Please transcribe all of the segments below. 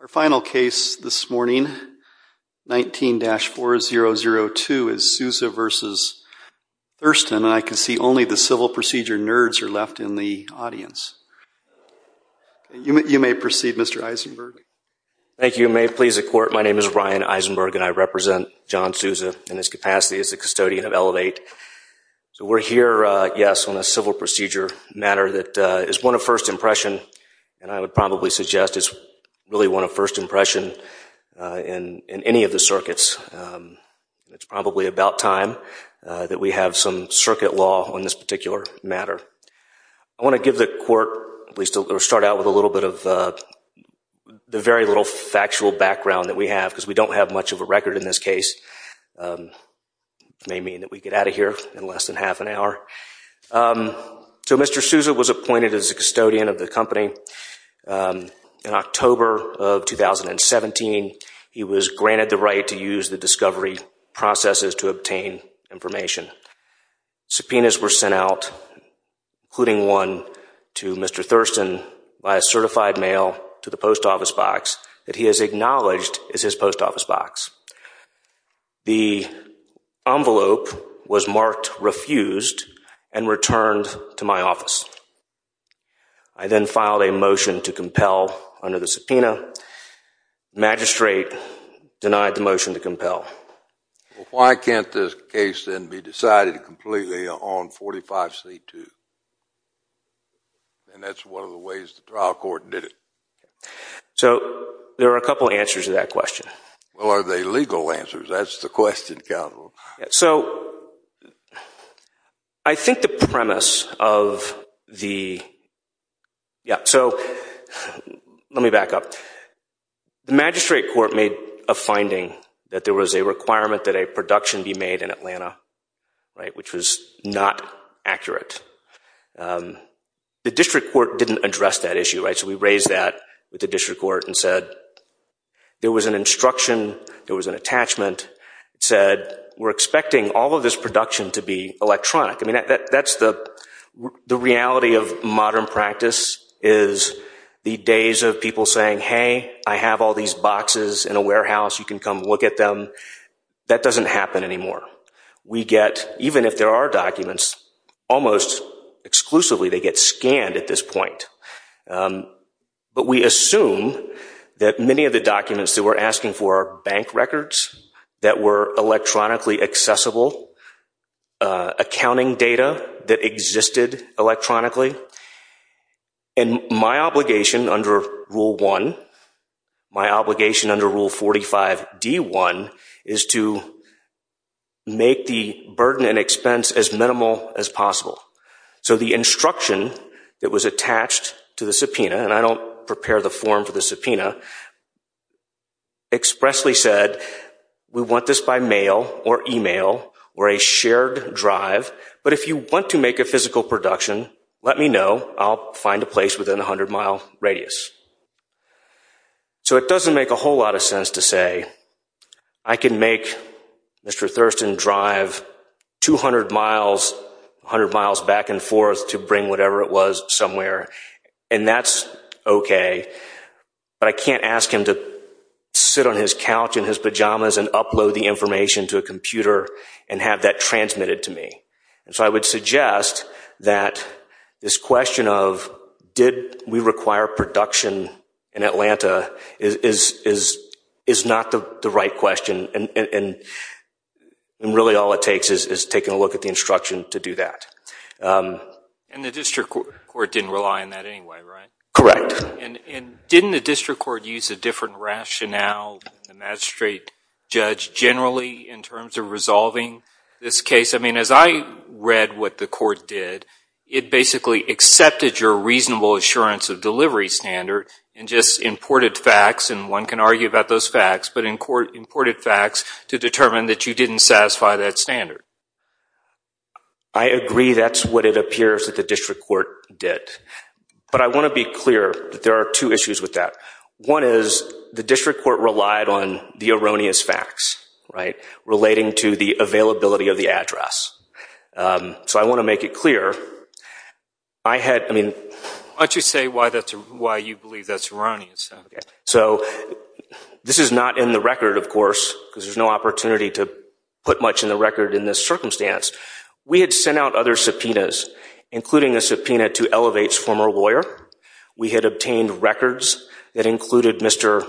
Our final case this morning, 19-4002, is Souza v. Thurston. I can see only the Civil Procedure nerds are left in the audience. You may proceed, Mr. Eisenberg. Thank you. May it please the Court, my name is Ryan Eisenberg and I represent John Souza in his capacity as a custodian of Elevate. So we're here, yes, on a Civil Procedure matter that is one of first impression and I would probably suggest it's really one of first impression in any of the circuits. It's probably about time that we have some circuit law on this particular matter. I want to give the Court, at least start out with a little bit of the very little factual background that we have because we don't have much of a record in this case. It may mean that we get out of here in less than half an hour. So Mr. Souza was appointed as a custodian of the company in October of 2017. He was granted the right to use the discovery processes to obtain information. Subpoenas were sent out, including one to Mr. Thurston by a certified mail to the post office box that he has acknowledged is his post office box. The envelope was marked refused and returned to my office. I then filed a motion to compel under the subpoena. The magistrate denied the motion to compel. Why can't this case then be decided completely on 45C2? And that's one of the reasons the trial court did it. So there are a couple of answers to that question. Well, are they legal answers? That's the question, counsel. So I think the premise of the, yeah, so let me back up. The magistrate court made a finding that there was a requirement that a production be made in Atlanta, right, which was not accurate. The district court didn't address that issue, right? So we raised that with the district court and said there was an instruction, there was an attachment. It said we're expecting all of this production to be electronic. I mean, that's the reality of modern practice is the days of people saying, hey, I have all these boxes in a warehouse. You can come and look at them. That doesn't happen anymore. We get, even if there are documents, almost exclusively they get scanned at this point. But we assume that many of the documents that we're asking for are bank records that were electronically accessible, accounting data that existed electronically. And my obligation under Rule 1, my obligation under Rule 45D1 is to make the burden and expense as minimal as possible. So the instruction that was attached to the subpoena, and I don't prepare the form for the subpoena, expressly said we want this by mail or email or a shared drive. But if you want to make a physical production, let me know. I'll find a place within a 100-mile radius. So it doesn't make a whole lot of sense to say I can make Mr. Thurston drive 200 miles, 100 miles back and forth to bring whatever it was somewhere, and that's okay. But I can't ask him to sit on his couch in his pajamas and upload the information to a computer and have that transmitted to me. So I would suggest that this question of did we require production in Atlanta is not the right question. And really all it takes is taking a look at the instruction to do that. And the district court didn't rely on that anyway, right? Correct. And didn't the district court use a different rationale than the magistrate judge generally in terms of resolving this case? I mean, as I read what the court did, it basically accepted your reasonable assurance of delivery standard and just imported facts, and one can argue about those facts, but imported facts to determine that you didn't satisfy that standard. I agree that's what it appears that the district court did. But I want to be clear that there are two issues with that. One is the district court relied on the erroneous facts, right, relating to the availability of the address. So I want to make it clear, I had, I mean... Why don't you say why you believe that's erroneous? So this is not in the record, of course, because there's no opportunity to put much in the circumstance. We had sent out other subpoenas, including a subpoena to Elevate's former lawyer. We had obtained records that included Mr.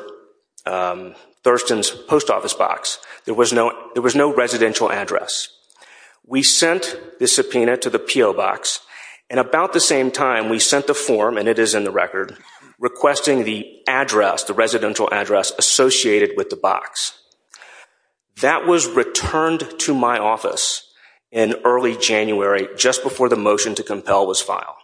Thurston's post office box. There was no residential address. We sent the subpoena to the P.O. box, and about the same time, we sent the form, and it is in the record, requesting the address, the residential address associated with the box. That was returned to my office in early January, just before the motion to compel was filed.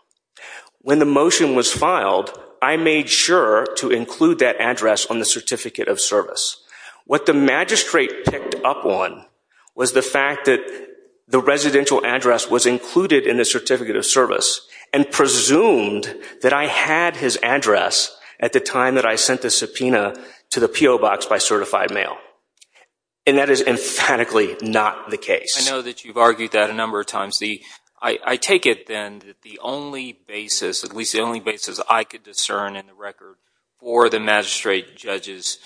When the motion was filed, I made sure to include that address on the certificate of service. What the magistrate picked up on was the fact that the residential address was included in the certificate of service, and presumed that I had his address at the time that I sent the subpoena to the P.O. box by certified mail. And that is emphatically not the case. I know that you've argued that a number of times. I take it, then, that the only basis, at least the only basis I could discern in the record for the magistrate judge's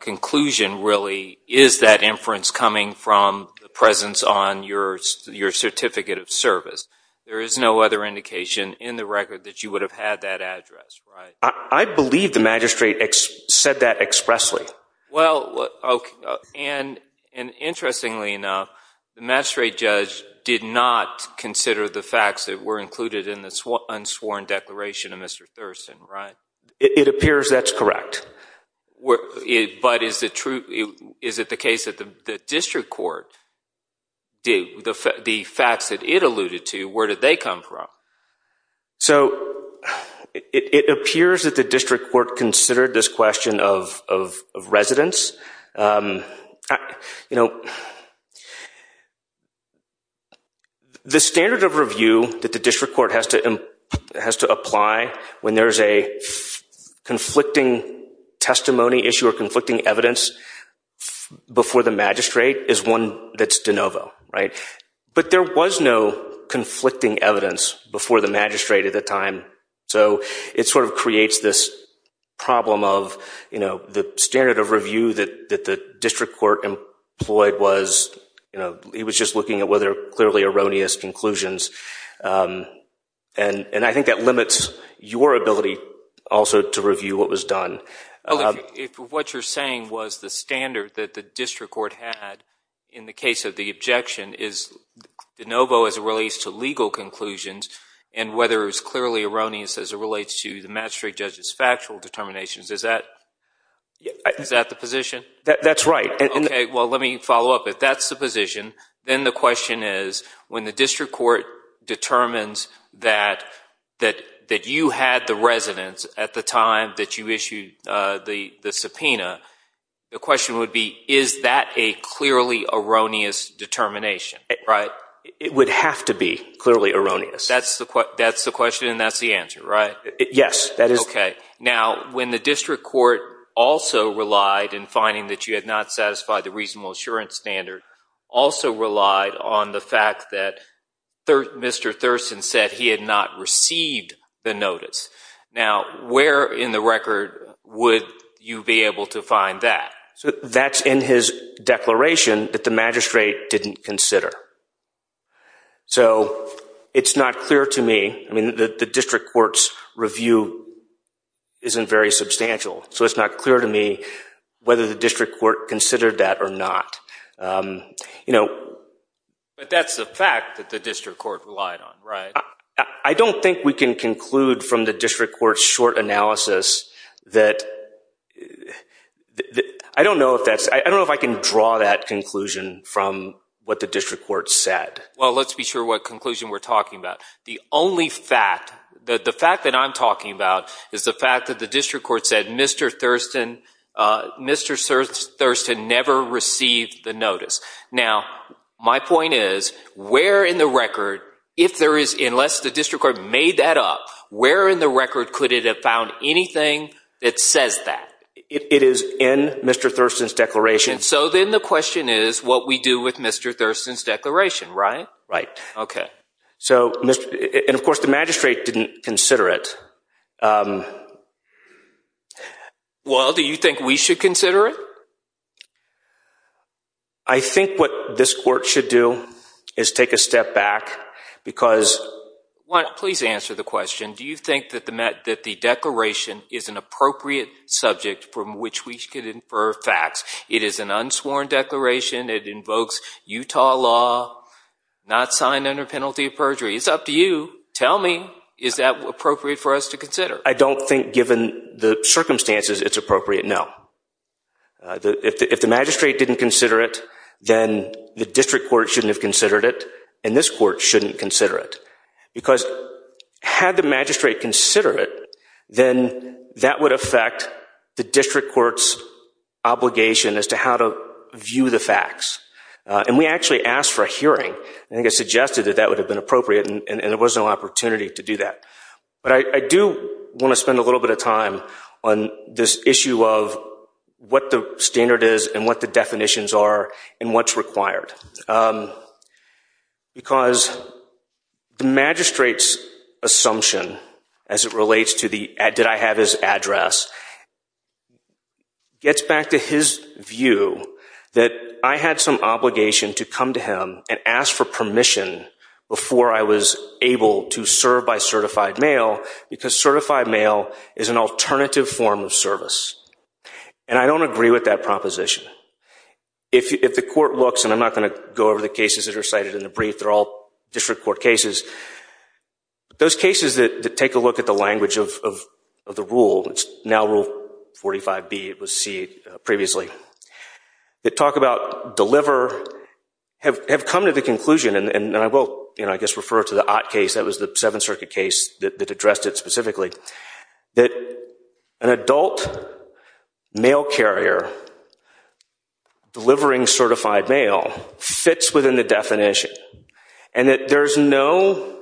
conclusion, really, is that inference coming from the presence on your certificate of service. There is no other indication in the record that you would have had that address, right? I believe the magistrate said that expressly. Well, and interestingly enough, the magistrate judge did not consider the facts that were included in the unsworn declaration of Mr. Thurston, right? It appears that's correct. But is it the case that the district court, the facts that it alluded to, where did they come from? So, it appears that the district court considered this question of residence. The standard of review that the district court has to apply when there's a conflicting testimony issue or conflicting evidence before the magistrate is one that's de novo, right? But there was no conflicting evidence before the magistrate at the time. So, it sort of creates this problem of, you know, the standard of review that the district court employed was, you know, it was just looking at whether there were clearly erroneous conclusions. And I think that limits your ability also to review what was done. What you're saying was the standard that the district court had in the case of the objection is de novo as it relates to legal conclusions and whether it's clearly erroneous as it relates to the magistrate judge's factual determinations. Is that the position? That's right. Okay, well, let me follow up. If that's the position, then the question is, when the district court determines that you had the residence at the time that you issued the subpoena, the question would be, is that a clearly erroneous determination, right? It would have to be clearly erroneous. That's the question and that's the answer, right? Yes. Okay. Now, when the district court also relied in finding that you had not satisfied the reasonable assurance standard, also relied on the fact that Mr. Thurston said he had not received the notice. Now, where in the record would you be able to find that? That's in his declaration that the magistrate didn't consider. So, it's not clear to me. The district court's review isn't very substantial, so it's not clear to me whether the district court considered that or not. That's the fact that the district court relied on, right? I don't think we can conclude from the district court's short analysis that, I don't know if that's, I don't know if I can draw that conclusion from what the district court said. Well, let's be sure what conclusion we're talking about. The only fact, the fact that I'm talking about is the fact that the district court said Mr. Thurston never received the unless the district court made that up, where in the record could it have found anything that says that? It is in Mr. Thurston's declaration. So then the question is what we do with Mr. Thurston's declaration, right? Right. Okay. So, and of course the magistrate didn't consider it. Well, do you think we should consider it? I think what this court should do is take a step back, because Well, please answer the question. Do you think that the declaration is an appropriate subject from which we could infer facts? It is an unsworn declaration, it invokes Utah law, not signed under penalty of perjury. It's up to you. Tell me, is that appropriate for us to consider? I don't think given the circumstances it's appropriate, no. If the magistrate didn't consider it, then the district court shouldn't have considered it and this court shouldn't consider it. Because had the magistrate considered it, then that would affect the district court's obligation as to how to view the facts. And we actually asked for a hearing, and I think it suggested that that would have been appropriate and there was no opportunity to do that. But I do want to spend a little bit of time on this issue of what the standard is and what the definitions are and what's required. Because the magistrate's assumption as it relates to the, did I have his address, gets back to his view that I had some obligation to come to him and ask for permission before I was able to serve by certified mail, because certified mail is an alternative form of service. And I don't agree with that proposition. If the court looks, and I'm not going to go over the cases that are cited in the brief, they're all district court cases. Those cases that take a look at the language of the rule, it's now Rule 45B, it was C previously, that talk about deliver, have come to the conclusion, and I will, I guess, refer to the Ott case, that was the Seventh Circuit case that addressed it specifically, that an adult mail carrier delivering certified mail fits within the definition. And that there's no,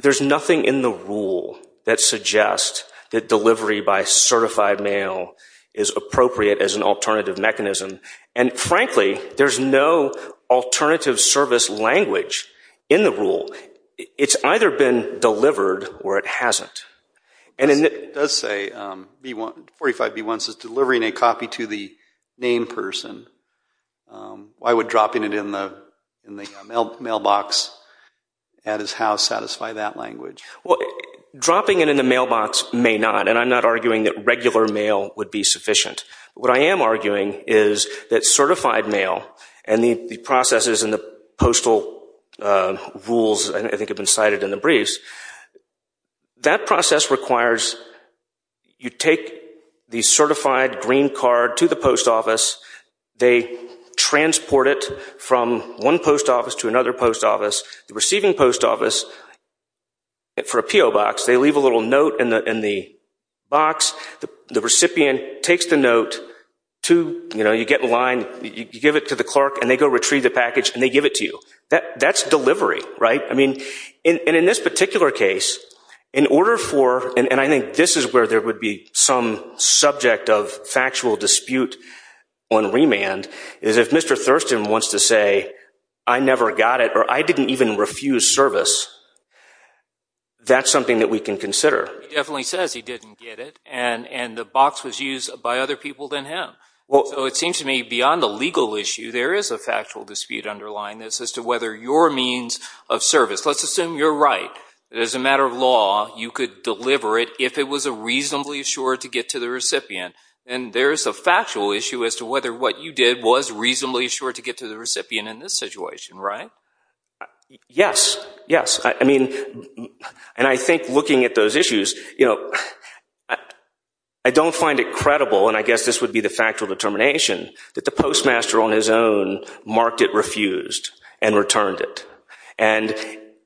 there's nothing in the rule that suggests that delivery by certified mail is appropriate as an alternative mechanism. And frankly, there's no alternative service language in the rule. It's either been delivered or it hasn't. And it does say, 45B1 says delivering a copy to the name person, why would dropping it in the mailbox at his house satisfy that language? Dropping it in the mailbox may not, and I'm not arguing that regular mail would be sufficient. What I am arguing is that certified mail and the processes and the postal rules, I think have been cited in the briefs, that process requires you take the certified green card to the post office, they transport it from one post office to another post office, the PO box, they leave a little note in the box, the recipient takes the note to, you know, you get in line, you give it to the clerk and they go retrieve the package and they give it to you. That's delivery, right? I mean, and in this particular case, in order for, and I think this is where there would be some subject of factual dispute on remand, is if Mr. Thurston wants to say, I never got it, or I didn't even refuse service, that's something that we can consider. He definitely says he didn't get it, and the box was used by other people than him. So it seems to me, beyond the legal issue, there is a factual dispute underlying this as to whether your means of service, let's assume you're right, that as a matter of law, you could deliver it if it was reasonably assured to get to the recipient, then there is a factual issue as to whether what you did was reasonably assured to get to the recipient in this situation, right? Yes, yes. And I think looking at those issues, you know, I don't find it credible, and I guess this would be the factual determination, that the postmaster on his own marked it refused and returned it. And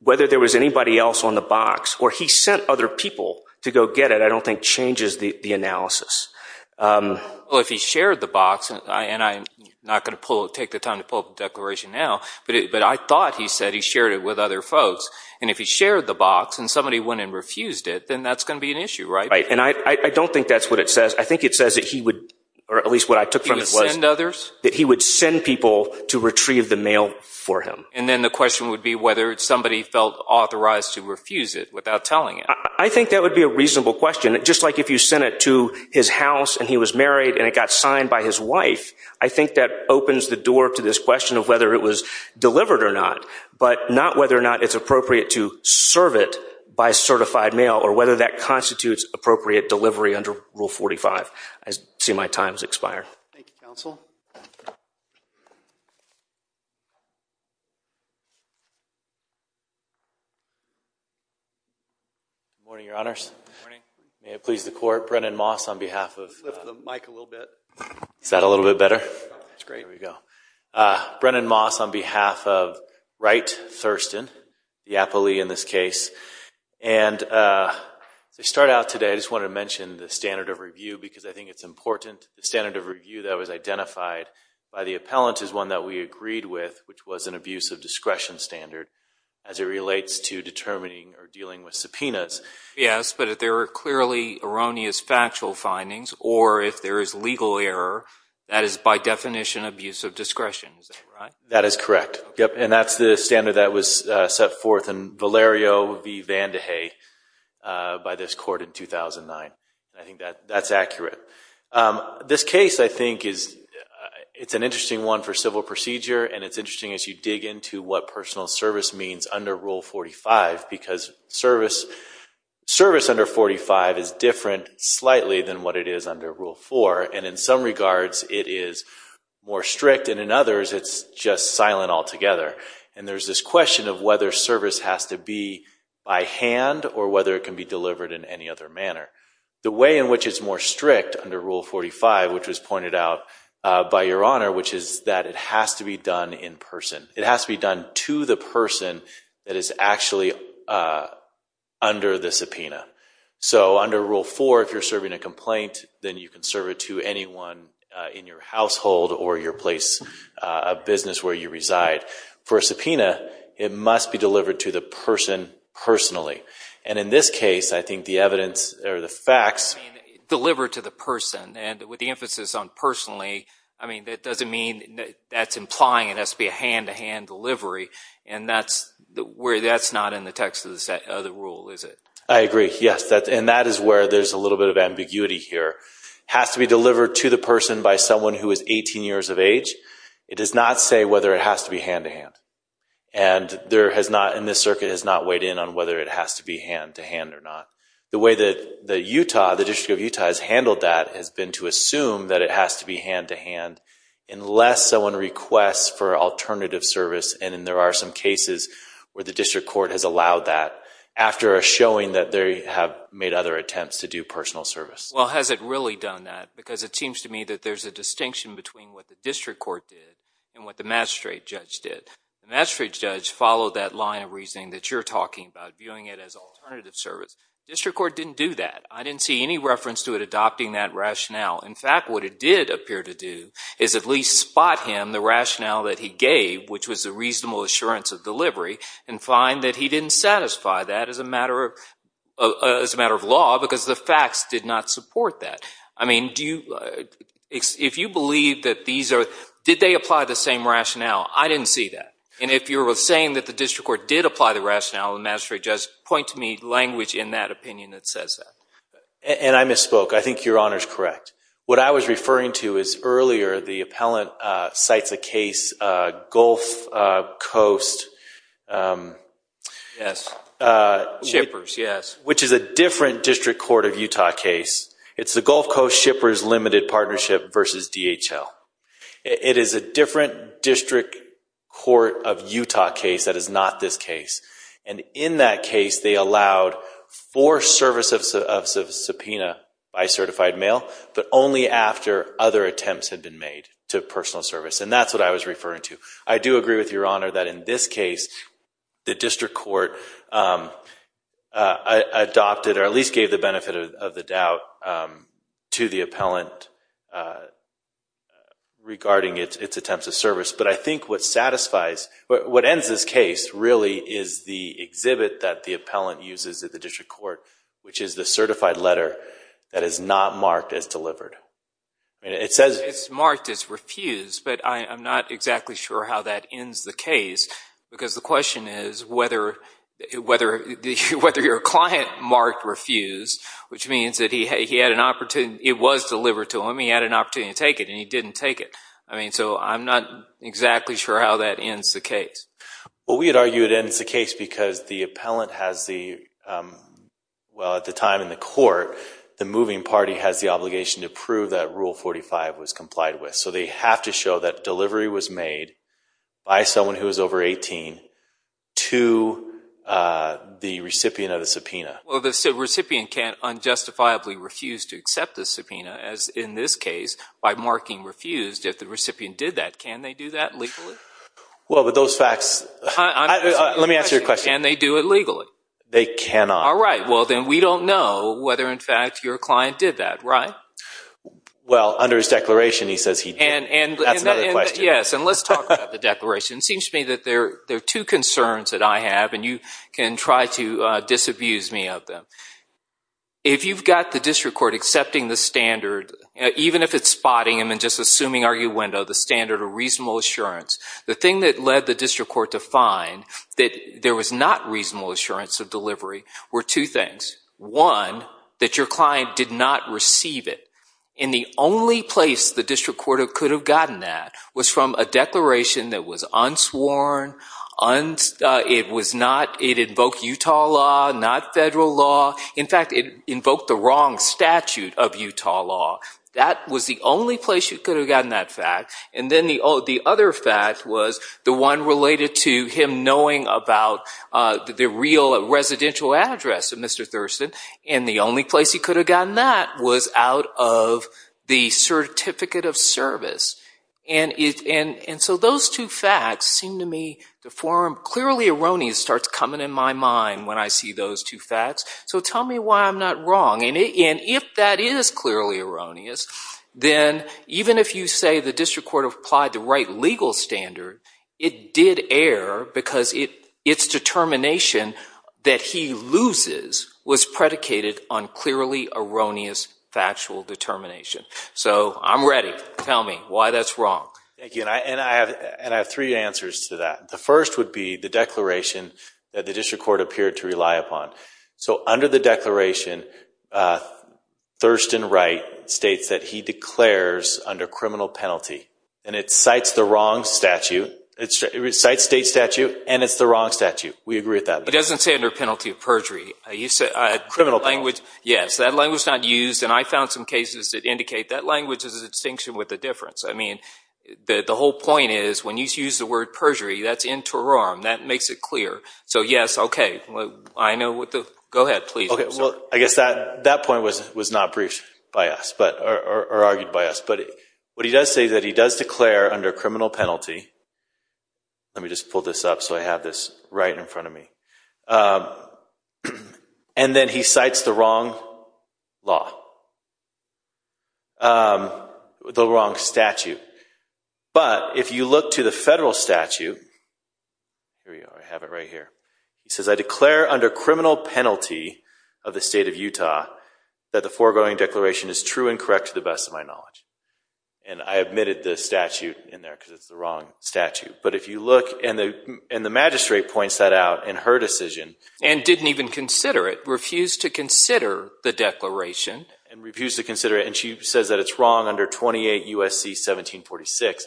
whether there was anybody else on the box or he sent other people to go get it, I don't think changes the analysis. Well, if he shared the box, and I'm not going to take the time to pull up the declaration now, but I thought he said he shared it with other folks, and if he shared the box and somebody went and refused it, then that's going to be an issue, right? And I don't think that's what it says. I think it says that he would, or at least what I took from it was that he would send people to retrieve the mail for him. And then the question would be whether somebody felt authorized to refuse it without telling him. I think that would be a reasonable question. And just like if you sent it to his house and he was married and it got signed by his wife, I think that opens the door to this question of whether it was delivered or not, but not whether or not it's appropriate to serve it by certified mail or whether that constitutes appropriate delivery under Rule 45. I see my time has expired. Thank you, Counsel. Good morning, Your Honors. Good morning. May it please the Court, Brennan Moss on behalf of… Lift the mic a little bit. Is that a little bit better? That's great. There we go. Brennan Moss on behalf of Wright Thurston, the appellee in this case. And to start out today, I just wanted to mention the standard of review because I think it's important. The standard of review that was identified by the appellant is one that we agreed with, which was an abuse of discretion standard as it relates to determining or dealing with facts, but if there are clearly erroneous factual findings or if there is legal error, that is by definition abuse of discretion. Is that right? That is correct. Yep. And that's the standard that was set forth in Valerio v. Van de Hey by this Court in 2009. I think that's accurate. This case, I think, it's an interesting one for civil procedure and it's interesting as you dig into what personal service means under Rule 45 because service under 45 is different slightly than what it is under Rule 4. And in some regards, it is more strict and in others, it's just silent altogether. And there's this question of whether service has to be by hand or whether it can be delivered in any other manner. The way in which it's more strict under Rule 45, which was pointed out by Your Honor, which is that it has to be done in person. It has to be done to the person that is actually under the subpoena. So, under Rule 4, if you're serving a complaint, then you can serve it to anyone in your household or your place of business where you reside. For a subpoena, it must be delivered to the person personally. And in this case, I think the evidence or the facts… I mean, that's implying it has to be a hand-to-hand delivery. And that's not in the text of the rule, is it? I agree. Yes. And that is where there's a little bit of ambiguity here. It has to be delivered to the person by someone who is 18 years of age. It does not say whether it has to be hand-to-hand. And this circuit has not weighed in on whether it has to be hand-to-hand or not. The way that Utah, the District of Utah has handled that has been to assume that it has to be hand-to-hand unless someone requests for alternative service. And there are some cases where the district court has allowed that after showing that they have made other attempts to do personal service. Well, has it really done that? Because it seems to me that there's a distinction between what the district court did and what the magistrate judge did. The magistrate judge followed that line of reasoning that you're talking about, viewing it as alternative service. The district court didn't do that. I didn't see any reference to it adopting that rationale. In fact, what it did appear to do is at least spot him the rationale that he gave, which was a reasonable assurance of delivery, and find that he didn't satisfy that as a matter of law because the facts did not support that. I mean, if you believe that these are – did they apply the same rationale? I didn't see that. And if you're saying that the district court did apply the rationale, the magistrate judge, point to me language in that opinion that says that. And I misspoke. I think your Honor's correct. What I was referring to is earlier the appellant cites a case, Gulf Coast. Yes. Shippers, yes. Which is a different district court of Utah case. It's the Gulf Coast Shippers Limited Partnership versus DHL. It is a different district court of Utah case that is not this case. And in that case they allowed for service of subpoena by certified mail, but only after other attempts had been made to personal service. And that's what I was referring to. I do agree with your Honor that in this case the district court adopted or at least gave the benefit of the doubt to the appellant regarding its attempts of service. But I think what ends this case really is the exhibit that the appellant uses at the district court, which is the certified letter that is not marked as delivered. It's marked as refused, but I'm not exactly sure how that ends the case. Because the question is whether your client marked refused, which means that it was delivered to him, he had an opportunity to take it, and he didn't take it. So I'm not exactly sure how that ends the case. Well, we would argue it ends the case because the appellant has the, well at the time in the court, the moving party has the obligation to prove that Rule 45 was complied with. So they have to show that delivery was made by someone who is over 18 to the recipient of the subpoena. Well, the recipient can't unjustifiably refuse to accept the subpoena, as in this case, by marking refused if the recipient did that. Can they do that legally? Well, with those facts, let me answer your question. Can they do it legally? They cannot. All right. Well, then we don't know whether, in fact, your client did that, right? Well, under his declaration, he says he did. That's another question. Yes. And let's talk about the declaration. It seems to me that there are two concerns that I have, and you can try to disabuse me of them. If you've got the district court accepting the standard, even if it's spotting them and just assuming arguendo, the standard of reasonable assurance, the thing that led the district court to find that there was not reasonable assurance of delivery were two things. One, that your client did not receive it. And the only place the district court could have gotten that was from a declaration that was unsworn. It invoked Utah law, not federal law. In fact, it invoked the wrong statute of Utah law. That was the only place you could have gotten that fact. And then the other fact was the one related to him knowing about the real residential address of Mr. Thurston, and the only place he could have gotten that was out of the certificate of service. And so those two facts seem to me to form clearly erroneous starts coming in my mind when I see those two facts. So tell me why I'm not wrong. And if that is clearly erroneous, then even if you say the district court applied the right legal standard, it did err because its determination that he loses was predicated on clearly erroneous factual determination. So I'm ready. Tell me why that's wrong. Thank you. And I have three answers to that. The first would be the declaration that the district court appeared to rely upon. So under the declaration, Thurston Wright states that he declares under criminal penalty. And it cites the wrong statute. It cites state statute, and it's the wrong statute. We agree with that. It doesn't say under penalty of perjury. Criminal penalty. Yes, that language is not used, and I found some cases that indicate that language is a distinction with a difference. I mean, the whole point is when you use the word perjury, that's interim. That makes it clear. So yes, okay. Go ahead, please. Okay, well, I guess that point was not briefed by us or argued by us. But what he does say is that he does declare under criminal penalty. Let me just pull this up so I have this right in front of me. And then he cites the wrong law, the wrong statute. But if you look to the federal statute, here we are. I have it right here. He says, I declare under criminal penalty of the state of Utah that the foregoing declaration is true and correct to the best of my knowledge. And I admitted the statute in there because it's the wrong statute. But if you look, and the magistrate points that out in her decision. And didn't even consider it, refused to consider the declaration. And refused to consider it, and she says that it's wrong under 28 U.S.C. 1746.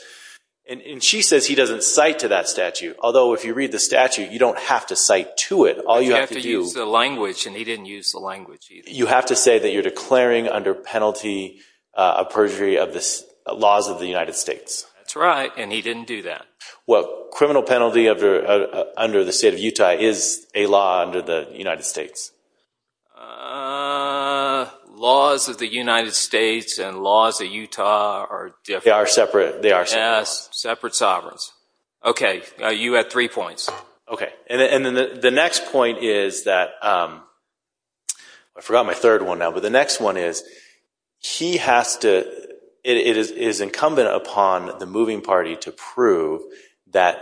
And she says he doesn't cite to that statute, although if you read the statute, you don't have to cite to it. You have to use the language, and he didn't use the language either. You have to say that you're declaring under penalty of perjury of the laws of the United States. That's right, and he didn't do that. Well, criminal penalty under the state of Utah is a law under the United States. Laws of the United States and laws of Utah are different. They are separate. Yes, separate sovereigns. Okay, you had three points. Okay, and the next point is that, I forgot my third one now, but the next one is, he has to, it is incumbent upon the moving party to prove that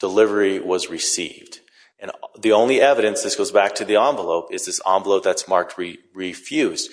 delivery was received. And the only evidence, this goes back to the envelope, is this envelope that's marked refused.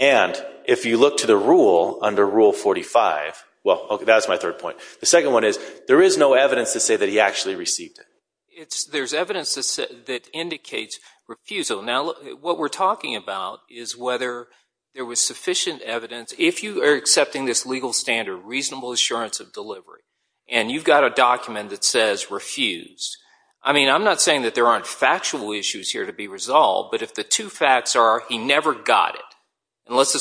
And if you look to the rule under Rule 45, well, that's my third point. The second one is, there is no evidence to say that he actually received it. There's evidence that indicates refusal. Now, what we're talking about is whether there was sufficient evidence. If you are accepting this legal standard, reasonable assurance of delivery, and you've got a document that says refused, I mean, I'm not saying that there aren't factual issues here to be resolved, but if the two facts are he never got it, and let's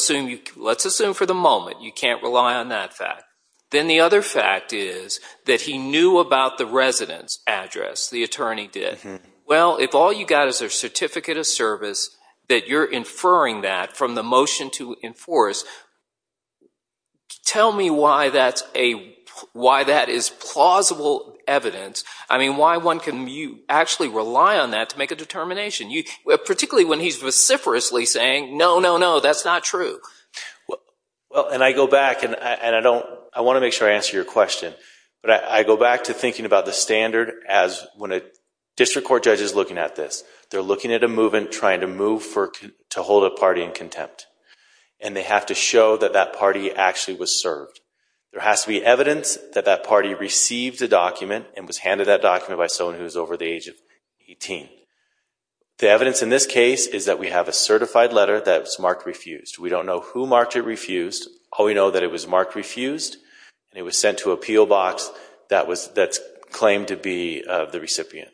assume for the moment you can't rely on that fact, then the other fact is that he knew about the residence address, the attorney did. Well, if all you've got is their certificate of service, that you're inferring that from the motion to enforce, tell me why that is plausible evidence. I mean, why one can actually rely on that to make a determination, particularly when he's vociferously saying, no, no, no, that's not true. Well, and I go back, and I want to make sure I answer your question, but I go back to thinking about the standard as when a district court judge is looking at this. They're looking at a movement, trying to move to hold a party in contempt, and they have to show that that party actually was served. There has to be evidence that that party received the document and was handed that document by someone who's over the age of 18. The evidence in this case is that we have a certified letter that's marked refused. We don't know who marked it refused. All we know that it was marked refused, and it was sent to a peel box that's claimed to be the recipient.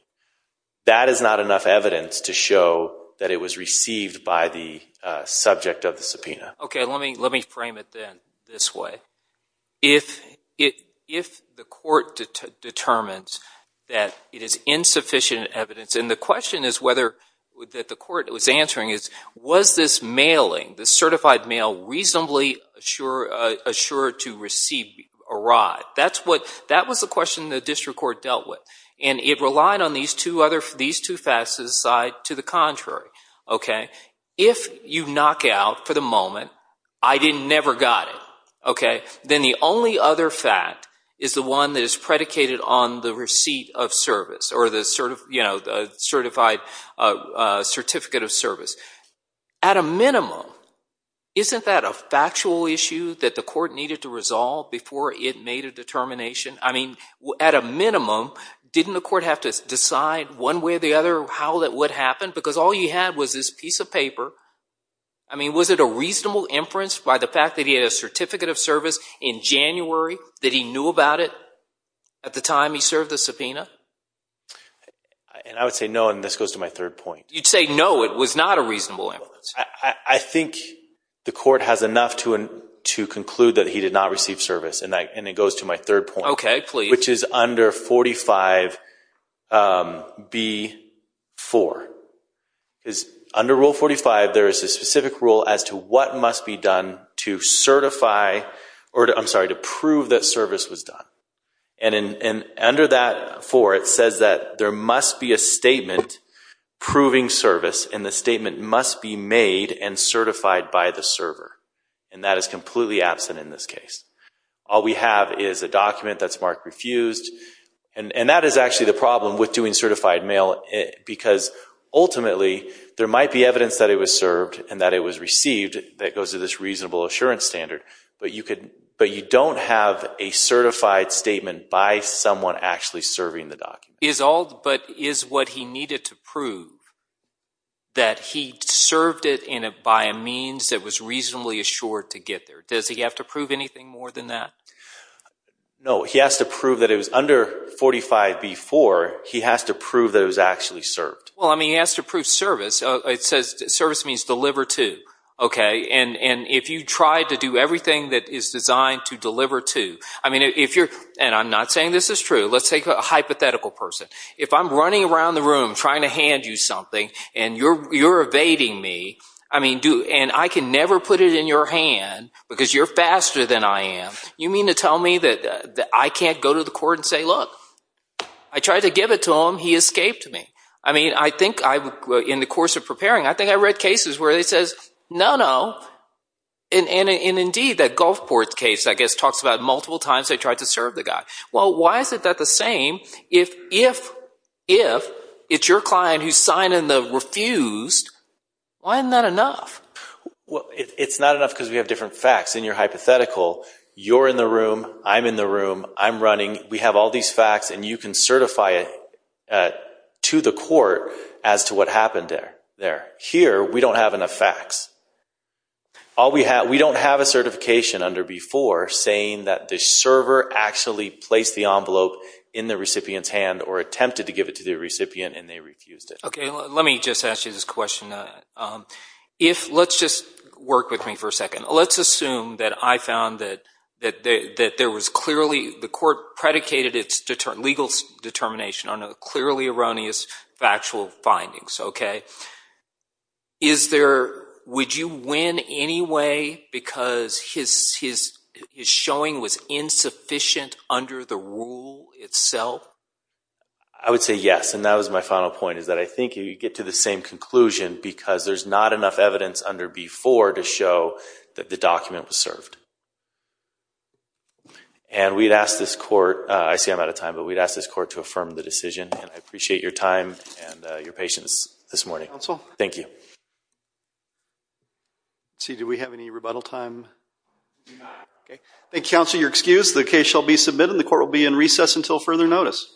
That is not enough evidence to show that it was received by the subject of the subpoena. Okay, let me frame it then this way. If the court determines that it is insufficient evidence, and the question that the court was answering is, was this mailing, this certified mail, reasonably assured to receive a ride? That was the question the district court dealt with, and it relied on these two facts to decide to the contrary. If you knock out for the moment, I didn't never got it, then the only other fact is the one that is predicated on the receipt of service or the certified certificate of service. At a minimum, isn't that a factual issue that the court needed to resolve before it made a determination? I mean, at a minimum, didn't the court have to decide one way or the other how that would happen? Because all you had was this piece of paper. I mean, was it a reasonable inference by the fact that he had a certificate of service in January that he knew about it at the time he served the subpoena? And I would say no, and this goes to my third point. You'd say no, it was not a reasonable inference. I think the court has enough to conclude that he did not receive service, and it goes to my third point. Okay, please. Which is under 45B-4. Under Rule 45, there is a specific rule as to what must be done to certify, or I'm sorry, to prove that service was done. And under that 4, it says that there must be a statement proving service, and the statement must be made and certified by the server, and that is completely absent in this case. All we have is a document that's marked refused, and that is actually the problem with doing certified mail, because ultimately there might be evidence that it was served and that it was received that goes to this reasonable assurance standard, but you don't have a certified statement by someone actually serving the document. But is what he needed to prove that he served it by a means that was reasonably assured to get there? Does he have to prove anything more than that? No, he has to prove that it was under 45B-4. He has to prove that it was actually served. Well, I mean, he has to prove service. It says service means deliver to, okay? And if you tried to do everything that is designed to deliver to, I mean, if you're, and I'm not saying this is true, let's take a hypothetical person. If I'm running around the room trying to hand you something, and you're evading me, I mean, and I can never put it in your hand because you're faster than I am, you mean to tell me that I can't go to the court and say, look, I tried to give it to him. He escaped me. I mean, I think in the course of preparing, I think I read cases where it says, no, no. And indeed that Gulfport case, I guess, talks about multiple times they tried to serve the guy. Well, why is that the same if it's your client who's signing the refused? Why isn't that enough? Well, it's not enough because we have different facts. In your hypothetical, you're in the room, I'm in the room, I'm running. We have all these facts, and you can certify it to the court as to what happened there. Here, we don't have enough facts. We don't have a certification under B-4 saying that the server actually placed the envelope in the recipient's hand or attempted to give it to the recipient, and they refused it. Okay, let me just ask you this question. If – let's just work with me for a second. Let's assume that I found that there was clearly – the court predicated its legal determination on clearly erroneous factual findings, okay? Is there – would you win anyway because his showing was insufficient under the rule itself? I would say yes, and that was my final point is that I think you get to the same conclusion because there's not enough evidence under B-4 to show that the document was served. And we'd ask this court – I see I'm out of time, but we'd ask this court to affirm the decision, and I appreciate your time and your patience this morning. Counsel? Thank you. Let's see. Do we have any rebuttal time? Okay. Thank you, counsel. You're excused. The case shall be submitted, and the court will be in recess until further notice.